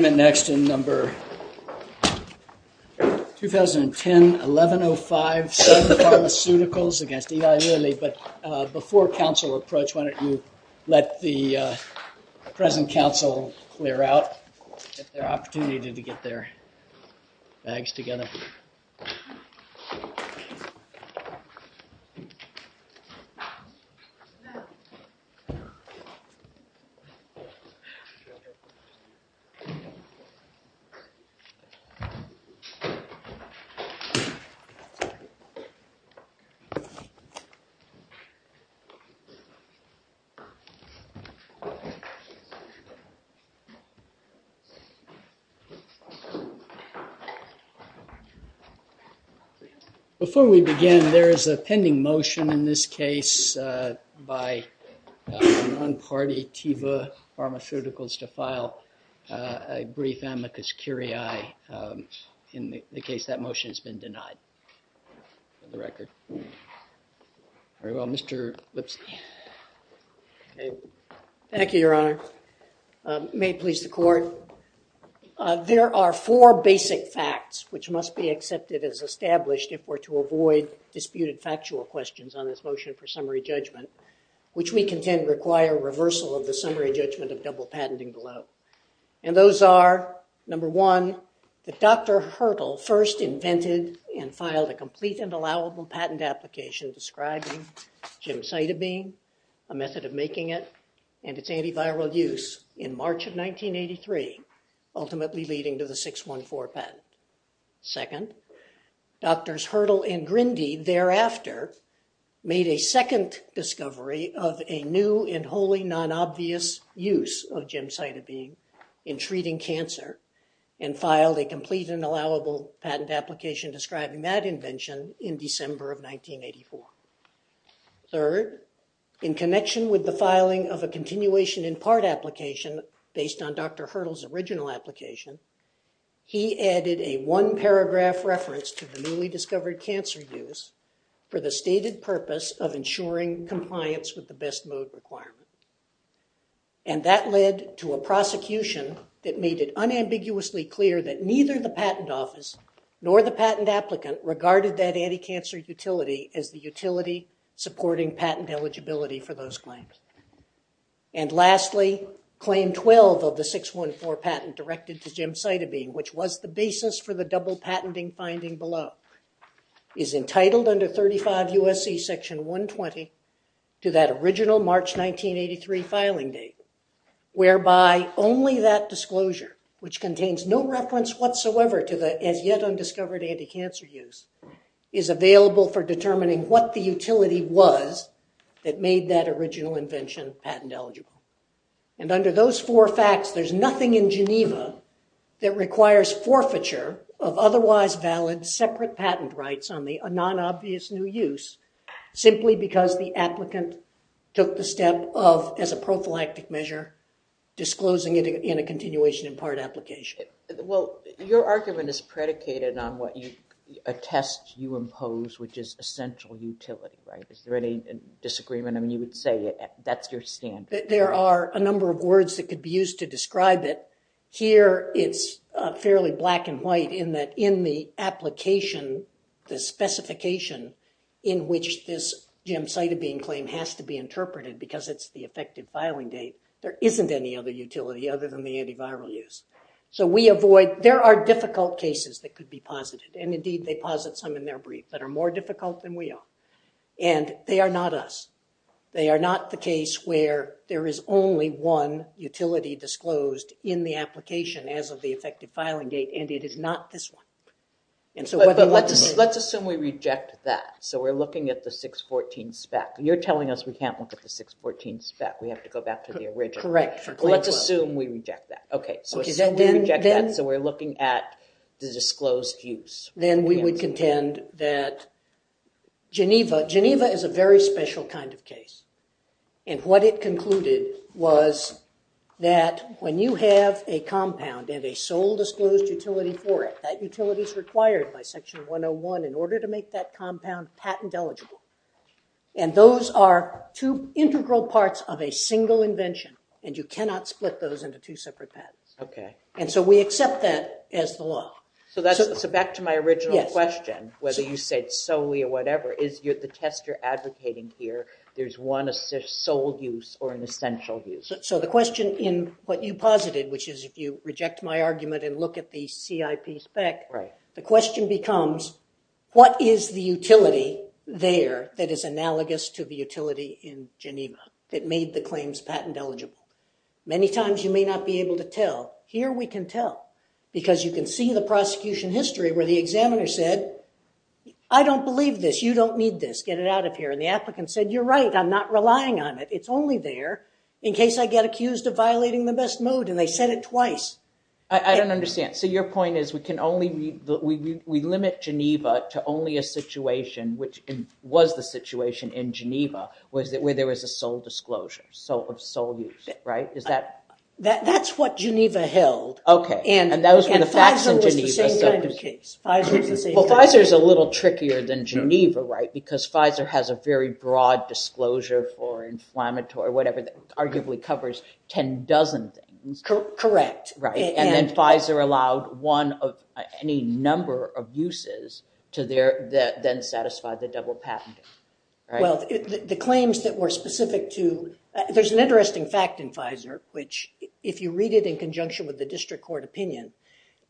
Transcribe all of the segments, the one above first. Next in number 2010-1105, Sun Pharmaceuticals v. Eli Lilly. But before council approach, why don't you let the present council clear out. Get their opportunity to get their bags together. Before we begin, there is a pending motion in this case by a non-party, Teva Pharmaceuticals to file a brief amicus curiae in the case that motion has been denied for the record. Very well, Mr. Lipsky. Thank you, your honor. May it please the court. There are four basic facts which must be accepted as established if we're to avoid disputed factual questions on this motion for summary judgment, which we contend require reversal of the summary judgment of double patenting below. And those are, number one, that Dr. Hertel first invented and filed a complete and allowable patent application describing gemcitabine, a method of making it, and its antiviral use in March of 1983, ultimately leading to the 614 patent. Second, Drs. Hertel and Grindy thereafter made a second discovery of a new and wholly non-obvious use of gemcitabine in treating cancer and filed a complete and allowable patent application describing that invention in December of 1984. Third, in connection with the filing of a continuation in part application based on Dr. Hertel's original application, he added a one paragraph reference to the newly discovered cancer use for the stated purpose of ensuring compliance with the best mode requirement. And that led to a prosecution that made it unambiguously clear that neither the patent office nor the patent applicant regarded that anti-cancer utility as the utility supporting patent eligibility for those claims. And lastly, Claim 12 of the 614 patent directed to gemcitabine, which was the basis for the double patenting finding below, is entitled under 35 U.S.C. Section 120 to that original March 1983 filing date, whereby only that disclosure, which contains no reference whatsoever to the as yet undiscovered anti-cancer use, is available for determining what the utility was that made that original invention patent eligible. And under those four facts, there's nothing in Geneva that requires forfeiture of otherwise valid separate patent rights on the non-obvious new use simply because the applicant took the step of, as a prophylactic measure, disclosing it in a continuation in part application. Well, your argument is predicated on what you attest you impose, which is essential utility, right? Is there any disagreement? I mean, you would say that's your standard. There are a number of words that could be used to describe it. Here, it's fairly black and white in that in the application, the specification in which this gemcitabine claim has to be interpreted because it's the effective filing date, there isn't any other utility other than the antiviral use. So we avoid, there are difficult cases that could be posited. And indeed, they posit some in their brief that are more difficult than we are. And they are not us. They are not the case where there is only one utility disclosed in the application as of the effective filing date. And it is not this one. Let's assume we reject that. So we're looking at the 614 spec. You're telling us we can't look at the 614 spec. We have to go back to the original. Correct. Let's assume we reject that. So we're looking at the disclosed use. Then we would contend that Geneva, Geneva is a very special kind of case. And what it concluded was that when you have a compound and a sole disclosed utility for it, that utility is required by section 101 in order to make that compound patent eligible. And those are two integral parts of a single invention. And you cannot split those into two separate patents. Okay. And so we accept that as the law. So back to my original question, whether you said solely or whatever, is the test you're advocating here, there's one sole use or an essential use? So the question in what you posited, which is if you reject my argument and look at the CIP spec, the question becomes what is the utility there that is analogous to the utility in Geneva that made the claims patent eligible? Many times you may not be able to tell. Here we can tell because you can see the prosecution history where the examiner said, I don't believe this. You don't need this. Get it out of here. And the applicant said, you're right. I'm not relying on it. It's only there in case I get accused of violating the best mode. And they said it twice. I don't understand. So your point is we limit Geneva to only a situation, which was the situation in Geneva where there was a sole disclosure of sole use, right? That's what Geneva held. Okay. And Pfizer was the same kind of case. Well, Pfizer is a little trickier than Geneva, right, because Pfizer has a very broad disclosure for inflammatory, whatever, that arguably covers 10 dozen things. Correct. Right. And then Pfizer allowed one of any number of uses to then satisfy the double patent. Well, the claims that were specific to, there's an interesting fact in Pfizer, which if you read it in conjunction with the district court opinion,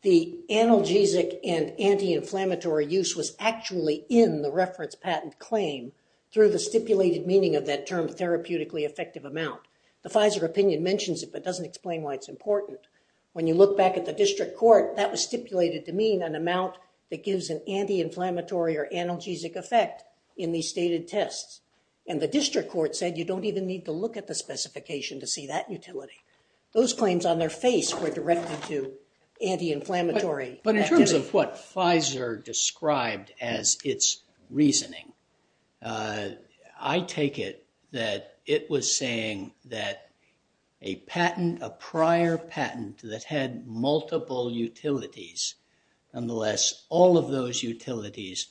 the analgesic and anti-inflammatory use was actually in the reference patent claim through the stipulated meaning of that term therapeutically effective amount. The Pfizer opinion mentions it but doesn't explain why it's important. When you look back at the district court, that was stipulated to mean an amount that gives an anti-inflammatory or analgesic effect in these stated tests. And the district court said you don't even need to look at the specification to see that utility. Those claims on their face were directed to anti-inflammatory activity. But in terms of what Pfizer described as its reasoning, I take it that it was saying that a patent, a prior patent that had multiple utilities, nonetheless all of those utilities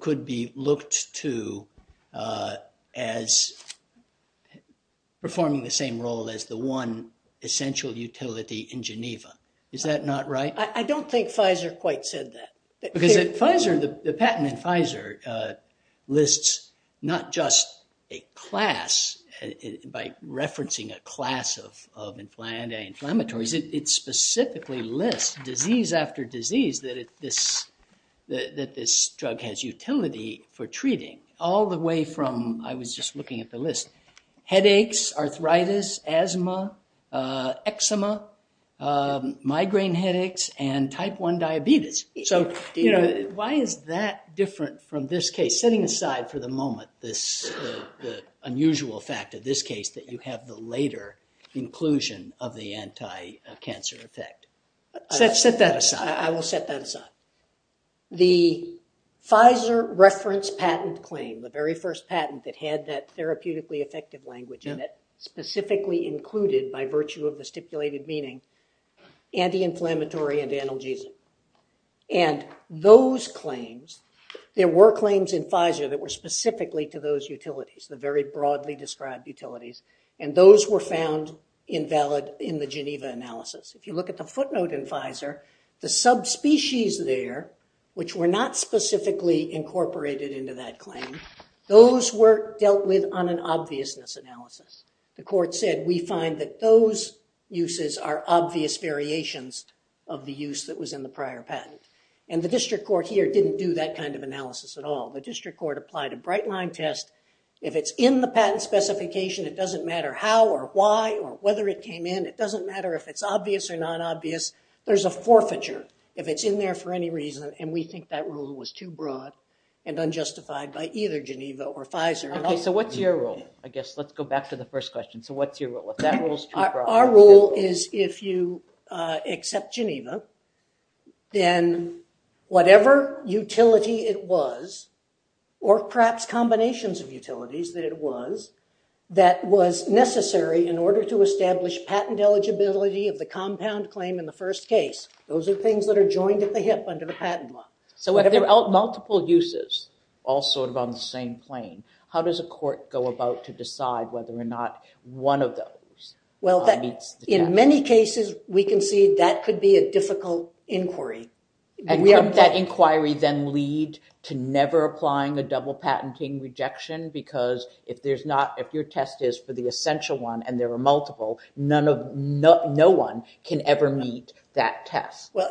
could be looked to as performing the same role as the one essential utility in Geneva. Is that not right? I don't think Pfizer quite said that. Because the patent in Pfizer lists not just a class by referencing a class of anti-inflammatories. It specifically lists disease after disease that this drug has utility for treating all the way from, I was just looking at the list, headaches, arthritis, asthma, eczema, migraine headaches, and type 1 diabetes. Why is that different from this case? Setting aside for the moment the unusual fact of this case that you have the later inclusion of the anti-cancer effect. Set that aside. I will set that aside. The Pfizer reference patent claim, the very first patent that had that therapeutically effective language and that specifically included by virtue of the stipulated meaning anti-inflammatory and analgesic. And those claims, there were claims in Pfizer that were specifically to those utilities, the very broadly described utilities, and those were found invalid in the Geneva analysis. If you look at the footnote in Pfizer, the subspecies there, which were not specifically incorporated into that claim, those were dealt with on an obviousness analysis. The court said we find that those uses are obvious variations of the use that was in the prior patent. And the district court here didn't do that kind of analysis at all. The district court applied a bright line test. If it's in the patent specification, it doesn't matter how or why or whether it came in. It doesn't matter if it's obvious or non-obvious. There's a forfeiture if it's in there for any reason, and we think that rule was too broad and unjustified by either Geneva or Pfizer. Okay, so what's your rule? I guess let's go back to the first question. So what's your rule? If that rule is too broad. Our rule is if you accept Geneva, then whatever utility it was or perhaps combinations of utilities that it was, that was necessary in order to establish patent eligibility of the compound claim in the first case, those are things that are joined at the hip under the patent law. So if there are multiple uses, all sort of on the same plane, how does a court go about to decide whether or not one of those meets the test? Well, in many cases, we can see that could be a difficult inquiry. And couldn't that inquiry then lead to never applying a double patenting rejection? Because if your test is for the essential one and there are multiple, no one can ever meet that test. Well,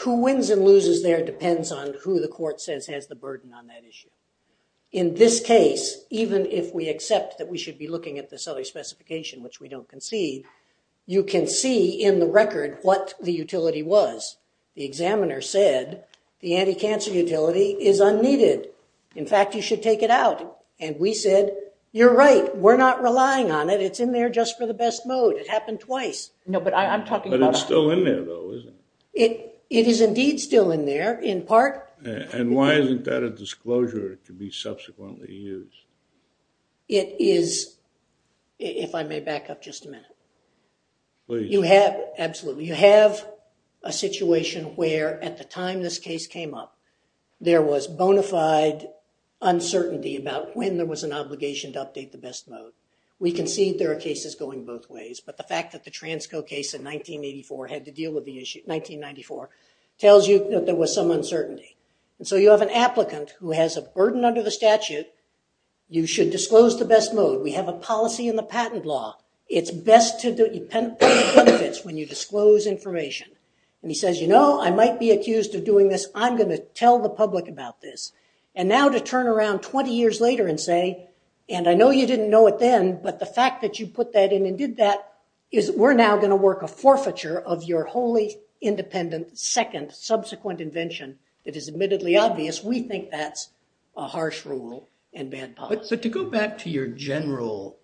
who wins and loses there depends on who the court says has the burden on that issue. In this case, even if we accept that we should be looking at this other specification, which we don't concede, you can see in the record what the utility was. The examiner said the anti-cancer utility is unneeded. In fact, you should take it out. And we said, you're right. We're not relying on it. It's in there just for the best mode. It happened twice. But it's still in there, though, isn't it? It is indeed still in there in part. And why isn't that a disclosure to be subsequently used? It is, if I may back up just a minute. Please. Absolutely. You have a situation where at the time this case came up, there was bona fide uncertainty about when there was an obligation to update the best mode. We concede there are cases going both ways. But the fact that the Transco case in 1984 had to deal with the issue, 1994, tells you that there was some uncertainty. And so you have an applicant who has a burden under the statute. You should disclose the best mode. We have a policy in the patent law. It's best to do it when you disclose information. And he says, you know, I might be accused of doing this. I'm going to tell the public about this. And now to turn around 20 years later and say, and I know you didn't know it then, but the fact that you put that in and did that is we're now going to work a forfeiture of your wholly independent second subsequent invention. It is admittedly obvious. We think that's a harsh rule and bad policy. But to go back to your general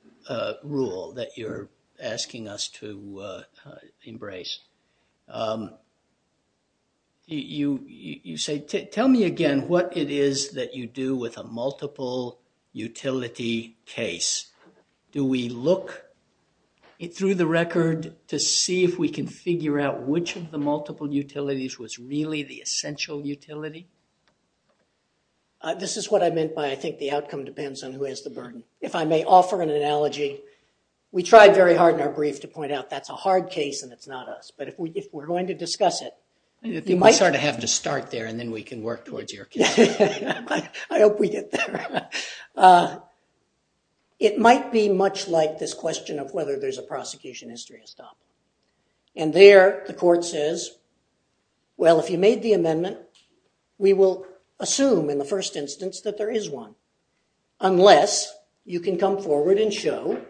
rule that you're asking us to embrace, you say, tell me again what it is that you do with a multiple utility case. Do we look through the record to see if we can figure out which of the multiple utilities was really the essential utility? This is what I meant by I think the outcome depends on who has the burden. If I may offer an analogy, we tried very hard in our brief to point out that's a hard case and it's not us. But if we're going to discuss it, you might sort of have to start there and then we can work towards your case. I hope we get there. It might be much like this question of whether there's a prosecution history to stop. And there the court says, well, if you made the amendment, we will assume in the first instance that there is one, unless you can come forward and show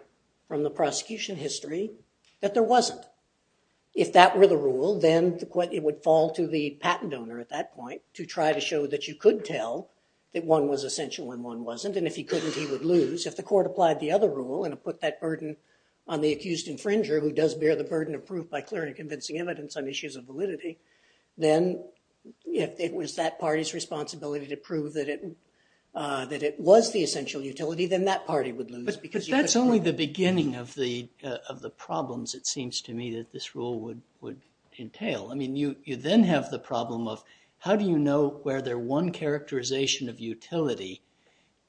from the prosecution history that there wasn't. If that were the rule, then it would fall to the patent owner at that point to try to show that you could tell that one was essential and one wasn't. And if he couldn't, he would lose. If the court applied the other rule and put that burden on the accused infringer who does bear the burden of proof by clearly convincing evidence on issues of validity, then if it was that party's responsibility to prove that it was the essential utility, then that party would lose. But that's only the beginning of the problems, it seems to me, that this rule would entail. I mean, you then have the problem of how do you know whether one characterization of utility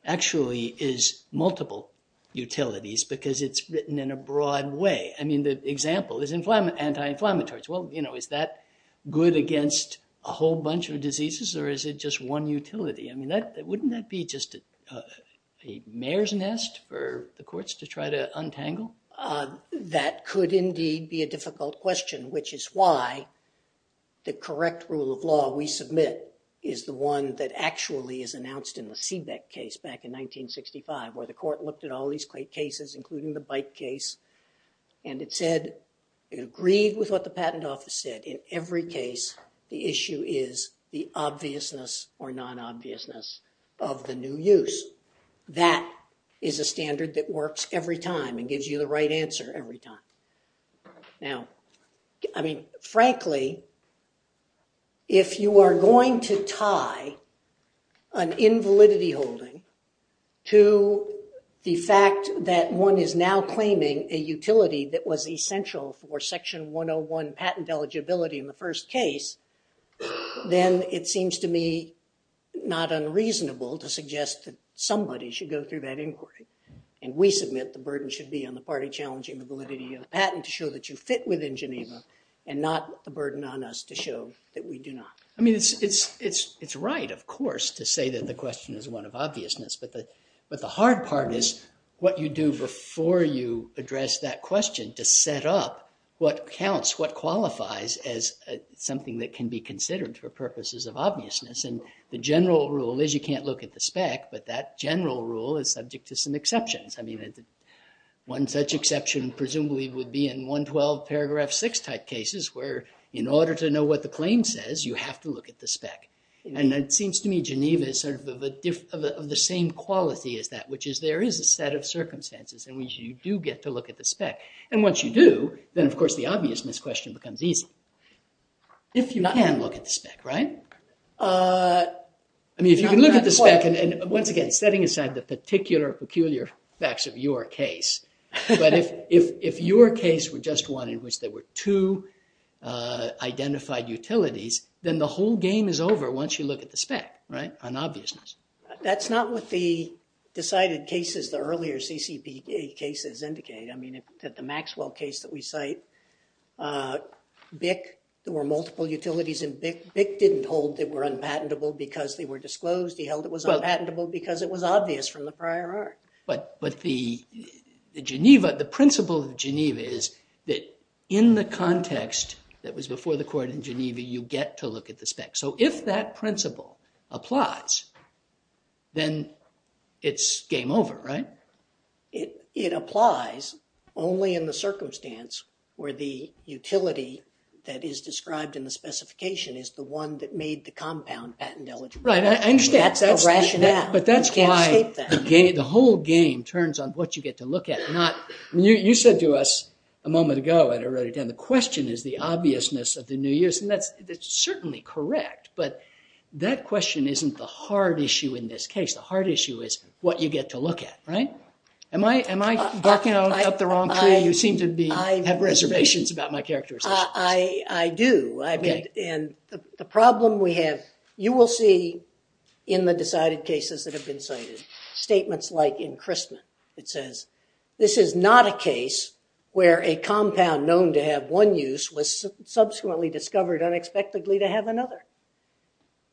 actually is multiple utilities because it's written in a broad way. I mean, the example is anti-inflammatories. Well, you know, is that good against a whole bunch of diseases or is it just one utility? I mean, wouldn't that be just a mare's nest for the courts to try to untangle? That could indeed be a difficult question, which is why the correct rule of law we submit is the one that actually is announced in the Seebeck case back in 1965 where the court looked at all these cases, including the bike case, and it said it agreed with what the patent office said. In every case, the issue is the obviousness or non-obviousness of the new use. That is a standard that works every time and gives you the right answer every time. Now, I mean, frankly, if you are going to tie an invalidity holding to the fact that one is now claiming a utility that was essential for Section 101 patent eligibility in the first case, then it seems to me not unreasonable to suggest that somebody should go through that inquiry, and we submit the burden should be on the party challenging the validity of the patent to show that you fit within Geneva and not the burden on us to show that we do not. I mean, it's right, of course, to say that the question is one of obviousness, but the hard part is what you do before you address that question to set up what counts, what qualifies as something that can be considered for purposes of obviousness. And the general rule is you can't look at the spec, but that general rule is subject to some exceptions. I mean, one such exception presumably would be in 112 paragraph 6 type cases where in order to know what the claim says, you have to look at the spec. And it seems to me Geneva is sort of the same quality as that, which is there is a set of circumstances in which you do get to look at the spec. And once you do, then, of course, the obviousness question becomes easy. If you can look at the spec, right? I mean, if you can look at the spec, and once again, setting aside the particular peculiar facts of your case, but if your case were just one in which there were two identified utilities, then the whole game is over once you look at the spec, right, on obviousness. That's not what the decided cases, the earlier CCP cases indicate. I mean, the Maxwell case that we cite, BIC, there were multiple utilities in BIC. BIC didn't hold they were unpatentable because they were disclosed. He held it was unpatentable because it was obvious from the prior art. But the principle of Geneva is that in the context that was before the court in Geneva, you get to look at the spec. So if that principle applies, then it's game over, right? It applies only in the circumstance where the utility that is described in the specification is the one that made the compound patent eligible. That's the rationale. You can't escape that. But that's why the whole game turns on what you get to look at. You said to us a moment ago at a earlier time, the question is the obviousness of the new use, and that's certainly correct. But that question isn't the hard issue in this case. The hard issue is what you get to look at, right? Am I barking up the wrong tree? You seem to have reservations about my characterizations. I do. And the problem we have, you will see in the decided cases that have been cited, statements like in Christman. It says, this is not a case where a compound known to have one use was subsequently discovered unexpectedly to have another.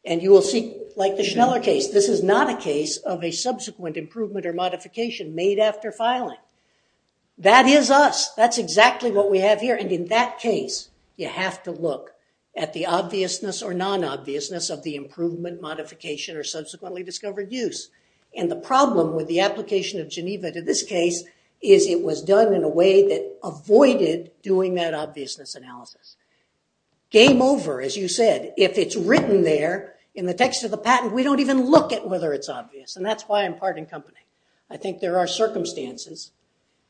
And you will see, like the Schneller case, this is not a case of a subsequent improvement or modification made after filing. That is us. That's exactly what we have here. And in that case, you have to look at the obviousness or non-obviousness of the improvement, modification, or subsequently discovered use. And the problem with the application of Geneva to this case is it was done in a way that avoided doing that obviousness analysis. Game over, as you said. If it's written there in the text of the patent, we don't even look at whether it's obvious. And that's why I'm part in company. I think there are circumstances.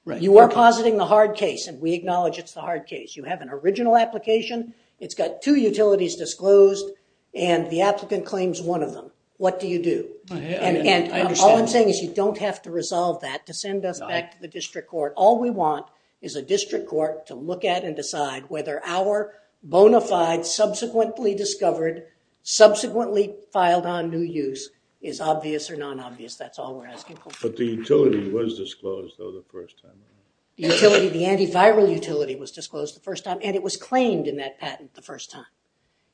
You are positing the hard case, and we acknowledge it's the hard case. You have an original application. It's got two utilities disclosed, and the applicant claims one of them. What do you do? All I'm saying is you don't have to resolve that to send us back to the district court. All we want is a district court to look at and decide whether our bona fide, subsequently discovered, subsequently filed on new use is obvious or non-obvious. That's all we're asking for. But the utility was disclosed, though, the first time. The antiviral utility was disclosed the first time, and it was claimed in that patent the first time.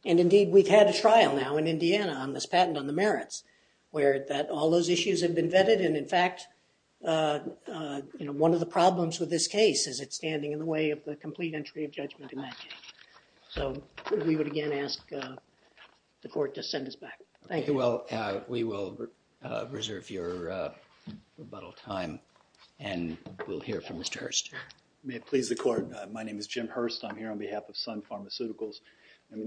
And indeed, we've had a trial now in Indiana on this patent on the merits where all those issues have been vetted. And in fact, one of the problems with this case is it's standing in the way of the complete entry of judgment in that case. So we would again ask the court to send us back. Thank you. Well, we will reserve your rebuttal time, and we'll hear from Mr. Hurst. May it please the court. My name is Jim Hurst. I'm here on behalf of Sun Pharmaceuticals. I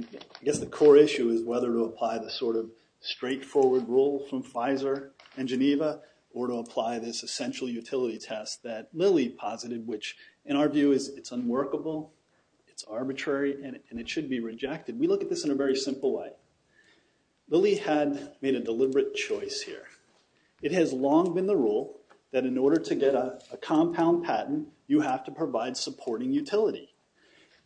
guess the core issue is whether to apply the sort of straightforward rule from Pfizer and Geneva or to apply this essential utility test that Lilly posited, which in our view is it's unworkable, it's arbitrary, and it should be rejected. We look at this in a very simple way. Lilly had made a deliberate choice here. It has long been the rule that in order to get a compound patent, you have to provide supporting utility.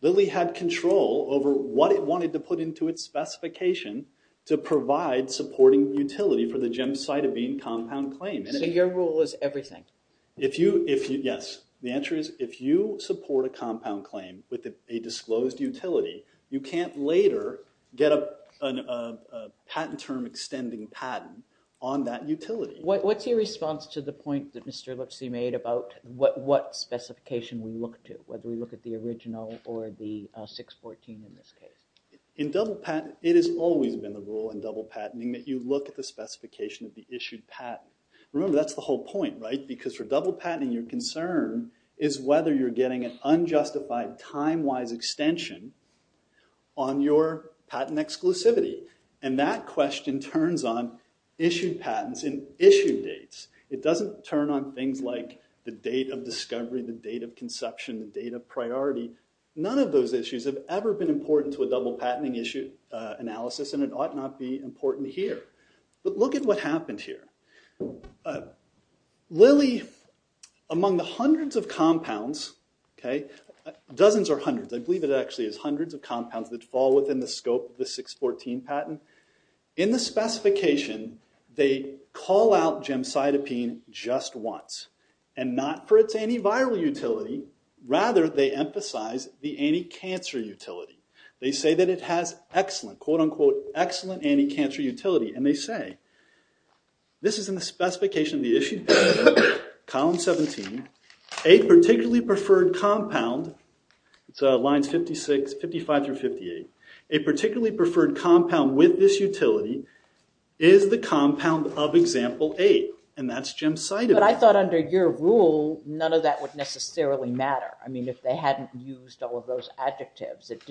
Lilly had control over what it wanted to put into its specification to provide supporting utility for the Gemcitabine compound claim. So your rule is everything? Yes. The answer is if you support a compound claim with a disclosed utility, you can't later get a patent term extending patent on that utility. What's your response to the point that Mr. Lipsy made about what specification we look to, whether we look at the original or the 614 in this case? It has always been the rule in double patenting that you look at the specification of the issued patent. Remember, that's the whole point, right? Because for double patenting, your concern is whether you're getting an unjustified time-wise extension on your patent exclusivity. And that question turns on issued patents and issued dates. It doesn't turn on things like the date of discovery, the date of conception, the date of priority. None of those issues have ever been important to a double patenting analysis, and it ought not be important here. But look at what happened here. Lilly, among the hundreds of compounds, dozens or hundreds, I believe it actually is hundreds of compounds that fall within the scope of the 614 patent, in the specification they call out Gemcitabine just once. And not for its antiviral utility. Rather, they emphasize the anti-cancer utility. They say that it has excellent, quote-unquote, excellent anti-cancer utility. And they say, this is in the specification of the issued patent, column 17, a particularly preferred compound, it's lines 55 through 58, a particularly preferred compound with this utility is the compound of example 8. And that's Gemcitabine. But I thought under your rule, none of that would necessarily matter. I mean, if they hadn't used all of those adjectives, it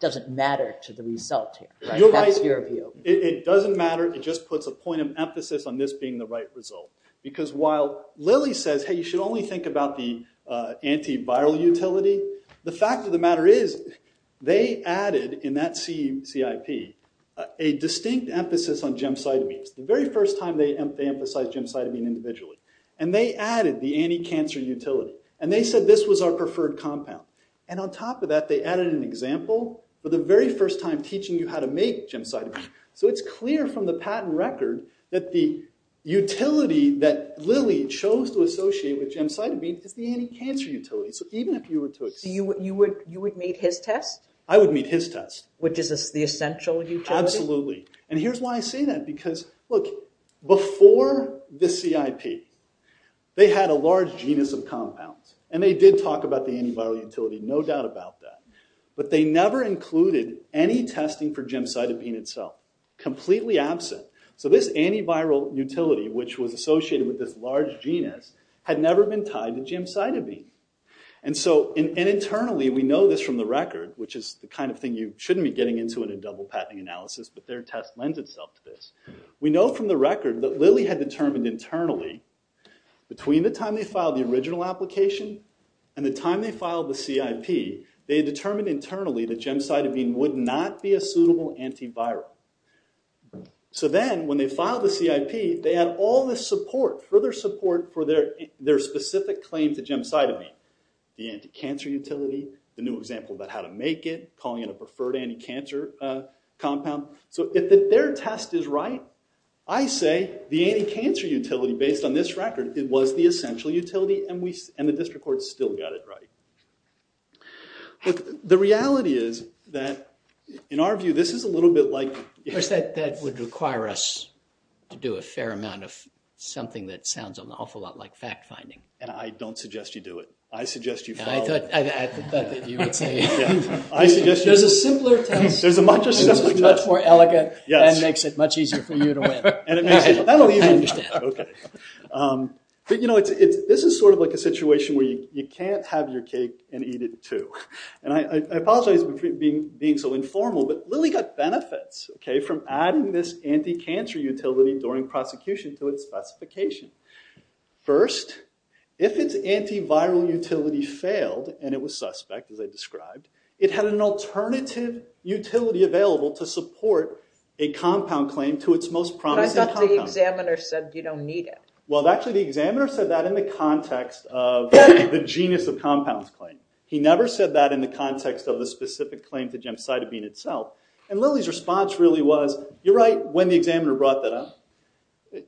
doesn't matter to the result here. That's your view. It doesn't matter. It just puts a point of emphasis on this being the right result. Because while Lilly says, hey, you should only think about the antiviral utility, the fact of the matter is they added in that CIP a distinct emphasis on Gemcitabines. The very first time they emphasized Gemcitabine individually. And they added the anti-cancer utility. And they said this was our preferred compound. And on top of that, they added an example for the very first time teaching you how to make Gemcitabine. So it's clear from the patent record that the utility that Lilly chose to associate with Gemcitabine is the anti-cancer utility. So even if you were to accept it. You would meet his test? I would meet his test. Which is the essential utility? Absolutely. And here's why I say that. Because, look, before the CIP, they had a large genus of compounds. And they did talk about the antiviral utility. No doubt about that. But they never included any testing for Gemcitabine itself. Completely absent. So this antiviral utility, which was associated with this large genus, had never been tied to Gemcitabine. And so internally we know this from the record, which is the kind of thing you shouldn't be getting into in a double patenting analysis. But their test lends itself to this. We know from the record that Lilly had determined internally between the time they filed the original application and the time they filed the CIP, they had determined internally that Gemcitabine would not be a suitable antiviral. So then when they filed the CIP, they had all this support, further support for their specific claim to Gemcitabine, the anti-cancer utility, the new example about how to make it, calling it a preferred anti-cancer compound. So if their test is right, I say the anti-cancer utility, based on this record, it was the essential utility, and the district court still got it right. The reality is that, in our view, this is a little bit like – Of course, that would require us to do a fair amount of something that sounds an awful lot like fact-finding. And I don't suggest you do it. I suggest you follow – I thought that you would say – There's a simpler test. There's a much simpler test. It's much more elegant and makes it much easier for you to win. And it makes it – that'll even – okay. But, you know, this is sort of like a situation where you can't have your cake and eat it too. And I apologize for being so informal, but Lilly got benefits, okay, from adding this anti-cancer utility during prosecution to its specification. First, if its anti-viral utility failed, and it was suspect, as I described, it had an alternative utility available to support a compound claim to its most promising compound. But I thought the examiner said you don't need it. Well, actually, the examiner said that in the context of the genius of compounds claim. He never said that in the context of the specific claim to gemcitabine itself. And Lilly's response really was, you're right, when the examiner brought that up.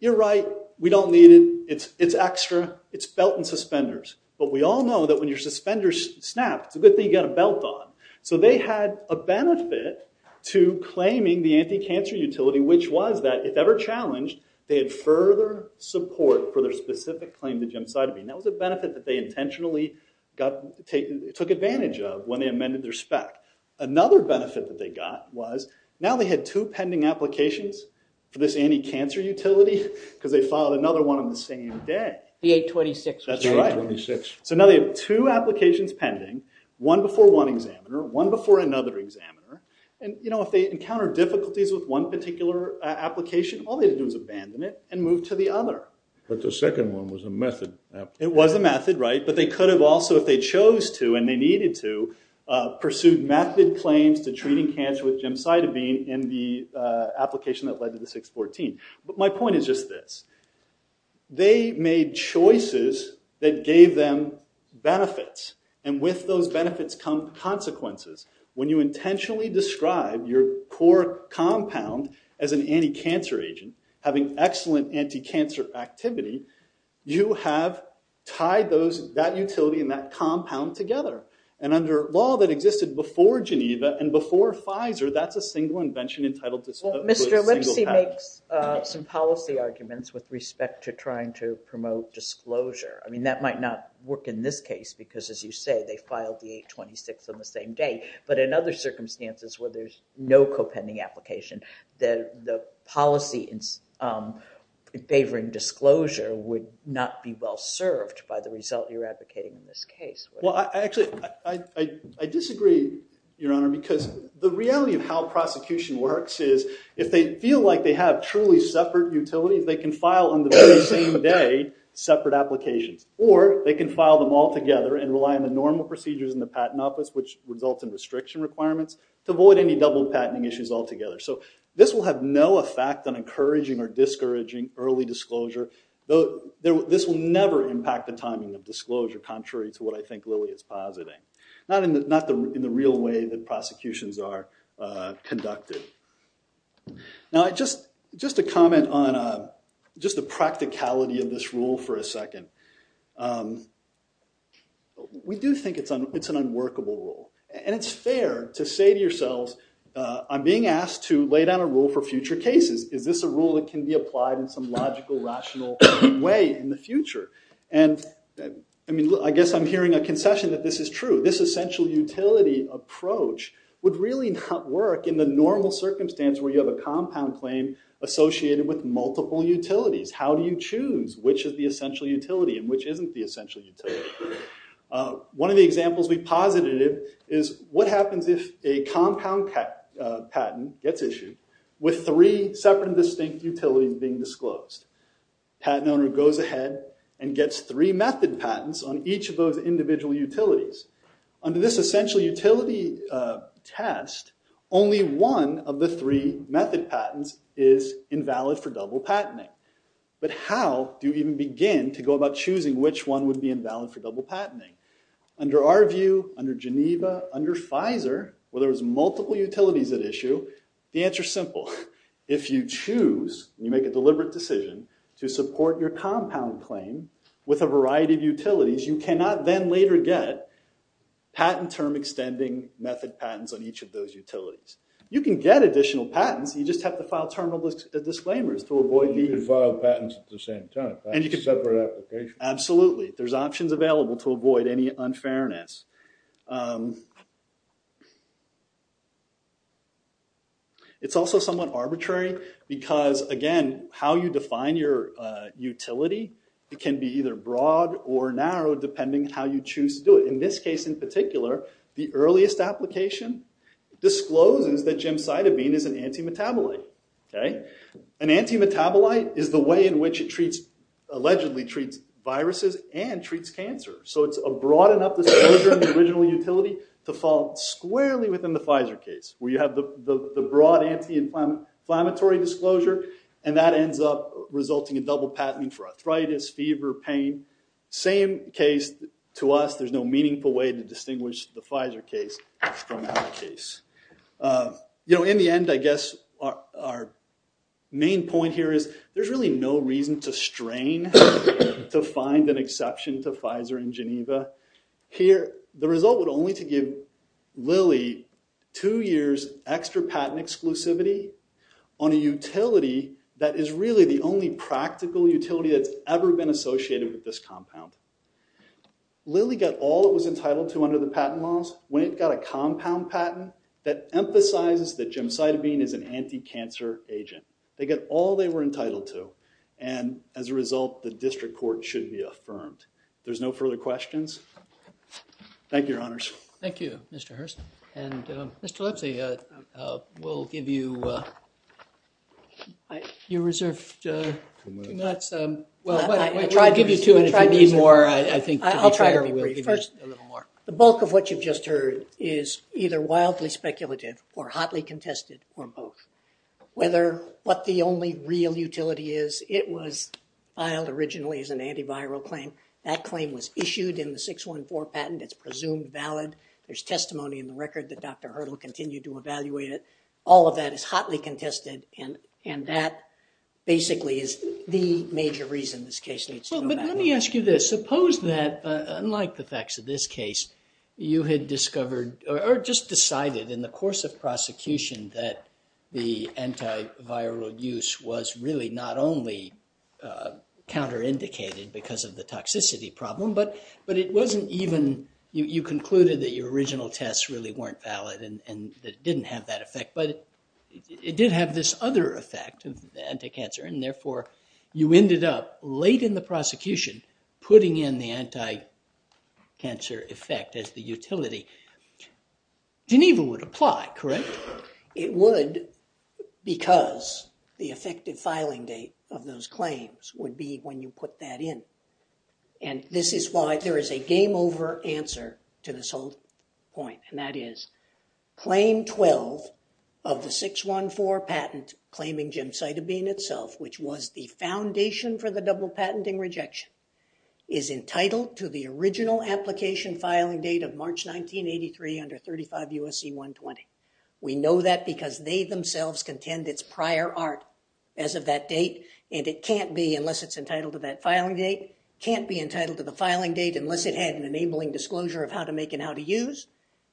You're right. We don't need it. It's extra. It's belt and suspenders. But we all know that when your suspenders snap, it's a good thing you got a belt on. So they had a benefit to claiming the anti-cancer utility, which was that if ever challenged, they had further support for their specific claim to gemcitabine. That was a benefit that they intentionally got – took advantage of when they amended their spec. Another benefit that they got was now they had two pending applications for this anti-cancer utility because they filed another one on the same day. The 826. That's right. The 826. So now they have two applications pending, one before one examiner, one before another examiner. And if they encounter difficulties with one particular application, all they had to do was abandon it and move to the other. But the second one was a method. It was a method, right. But they could have also, if they chose to and they needed to, pursued method claims to treating cancer with gemcitabine in the application that led to the 614. But my point is just this. They made choices that gave them benefits. And with those benefits come consequences. When you intentionally describe your core compound as an anti-cancer agent, having excellent anti-cancer activity, you have tied that utility and that compound together. And under law that existed before Geneva and before Pfizer, that's a single invention entitled to a single patent. Well, Mr. Lipsy makes some policy arguments with respect to trying to promote disclosure. I mean, that might not work in this case because, as you say, they filed the 826 on the same day. But in other circumstances where there's no co-pending application, the policy favoring disclosure would not be well served by the result you're advocating in this case. Well, actually, I disagree, Your Honor, because the reality of how prosecution works is, if they feel like they have truly separate utilities, they can file on the very same day separate applications. Or they can file them all together and rely on the normal procedures in the patent office, which results in restriction requirements, to avoid any double-patenting issues altogether. So this will have no effect on encouraging or discouraging early disclosure. This will never impact the timing of disclosure, contrary to what I think Lilly is positing. Not in the real way that prosecutions are conducted. Now, just a comment on just the practicality of this rule for a second. We do think it's an unworkable rule. And it's fair to say to yourselves, I'm being asked to lay down a rule for future cases. Is this a rule that can be applied in some logical, rational way in the future? And, I mean, I guess I'm hearing a concession that this is true. This essential utility approach would really not work in the normal circumstance where you have a compound claim associated with multiple utilities. How do you choose which is the essential utility and which isn't the essential utility? One of the examples we posited is, what happens if a compound patent gets issued with three separate and distinct utilities being disclosed? Patent owner goes ahead and gets three method patents on each of those individual utilities. Under this essential utility test, only one of the three method patents is invalid for double patenting. But how do you even begin to go about choosing which one would be invalid for double patenting? Under our view, under Geneva, under Pfizer, where there was multiple utilities at issue, the answer's simple. If you choose, and you make a deliberate decision, to support your compound claim with a variety of utilities, you cannot then later get patent term extending method patents on each of those utilities. You can get additional patents, you just have to file terminal disclaimers to avoid the- You could file patents at the same time, separate applications. Absolutely, there's options available to avoid any unfairness. It's also somewhat arbitrary because, again, how you define your utility can be either broad or narrow, depending how you choose to do it. In this case in particular, the earliest application discloses that gemcitabine is an antimetabolite. An antimetabolite is the way in which it treats- allegedly treats viruses and treats cancer. So it's a broad enough disclosure in the original utility to fall squarely within the Pfizer case, where you have the broad anti-inflammatory disclosure, and that ends up resulting in double patenting for arthritis, fever, pain. Same case to us, there's no meaningful way to distinguish the Pfizer case from our case. You know, in the end, I guess our main point here is there's really no reason to strain to find an exception to Pfizer in Geneva. Here, the result would only to give Lilly a two years extra patent exclusivity on a utility that is really the only practical utility that's ever been associated with this compound. Lilly got all it was entitled to under the patent laws. When it got a compound patent, that emphasizes that gemcitabine is an anti-cancer agent. They get all they were entitled to. And as a result, the district court should be affirmed. There's no further questions. Thank you, your honors. Thank you, Mr. Hurst. And Mr. Lipsy, we'll give you your reserved two minutes. Well, we'll give you two, and if you need more, I think, to be fair, we'll give you a little more. The bulk of what you've just heard is either wildly speculative or hotly contested, or both. Whether what the only real utility is, it was filed originally as an antiviral claim. That claim was issued in the 614 patent. It's presumed valid. There's testimony in the record that Dr. Hurdle continued to evaluate it. All of that is hotly contested, and that basically is the major reason this case needs to go back. Well, but let me ask you this. Suppose that, unlike the facts of this case, you had discovered, or just decided in the course of prosecution, that the antiviral use was really not only counter-indicated because of the toxicity problem, but it wasn't even, you concluded that your original tests really weren't valid and that it didn't have that effect. But it did have this other effect of anti-cancer, and therefore, you ended up, late in the prosecution, putting in the anti-cancer effect as the utility. Geneva would apply, correct? It would, because the effective filing date of those claims would be when you put that in. And this is why there is a game over answer to this whole point. And that is, claim 12 of the 614 patent claiming gemcitabine itself, which was the foundation for the double patenting rejection, is entitled to the original application filing date of March 1983 under 35 USC 120. We know that because they themselves contend it's prior art as of that date, and it can't be, unless it's entitled to that filing date, can't be entitled to the filing date unless it had an enabling disclosure of how to make and how to use,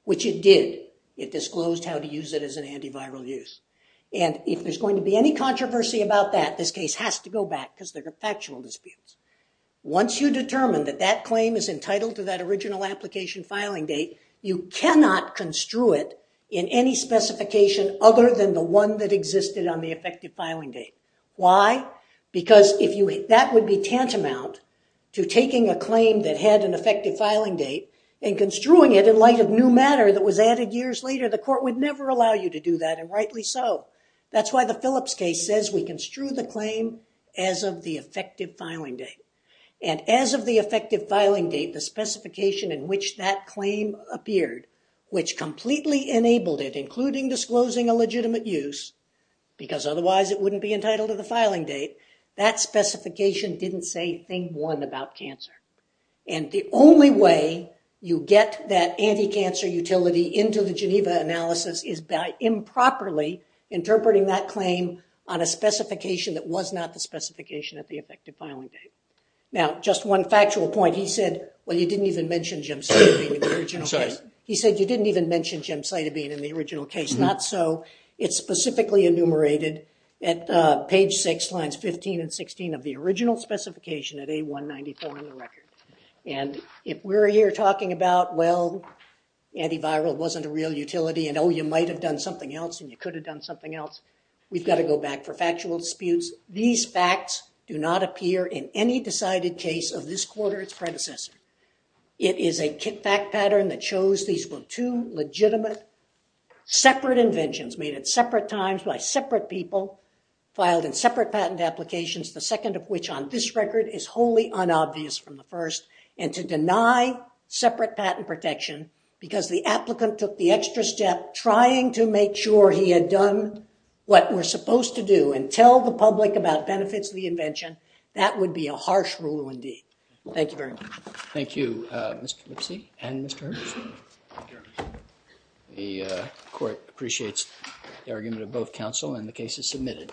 which it did. It disclosed how to use it as an antiviral use. And if there's going to be any controversy about that, this case has to go back, because there are factual disputes. Once you determine that that claim is entitled to that original application filing date, you cannot construe it in any specification other than the one that existed on the effective filing date. Why? Because that would be tantamount to taking a claim that had an effective filing date and construing it in light of new matter that was added years later. The court would never allow you to do that, and rightly so. That's why the Phillips case says we construe the claim as of the effective filing date. And as of the effective filing date, the specification in which that claim appeared, which completely enabled it, including disclosing a legitimate use, because otherwise it would be entitled to the filing date, that specification didn't say thing one about cancer. And the only way you get that anti-cancer utility into the Geneva analysis is by improperly interpreting that claim on a specification that was not the specification at the effective filing date. Now, just one factual point. He said, well, you didn't even mention gemcitabine in the original case. He said, you didn't even mention gemcitabine in the original case. It's not so. It's specifically enumerated at page 6, lines 15 and 16 of the original specification at A194 in the record. And if we're here talking about, well, antiviral wasn't a real utility, and oh, you might have done something else, and you could have done something else, we've got to go back for factual disputes. These facts do not appear in any decided case of this quarter its predecessor. It is a kit fact pattern that shows these were two legitimate separate inventions made at separate times by separate people, filed in separate patent applications, the second of which on this record is wholly unobvious from the first, and to deny separate patent protection because the applicant took the extra step trying to make sure he had done what we're supposed to do and tell the public about benefits of the invention, that would be a harsh rule indeed. Thank you very much. Thank you, Mr. Lipsy and Mr. Hersh. The court appreciates the argument of both counsel and the cases submitted.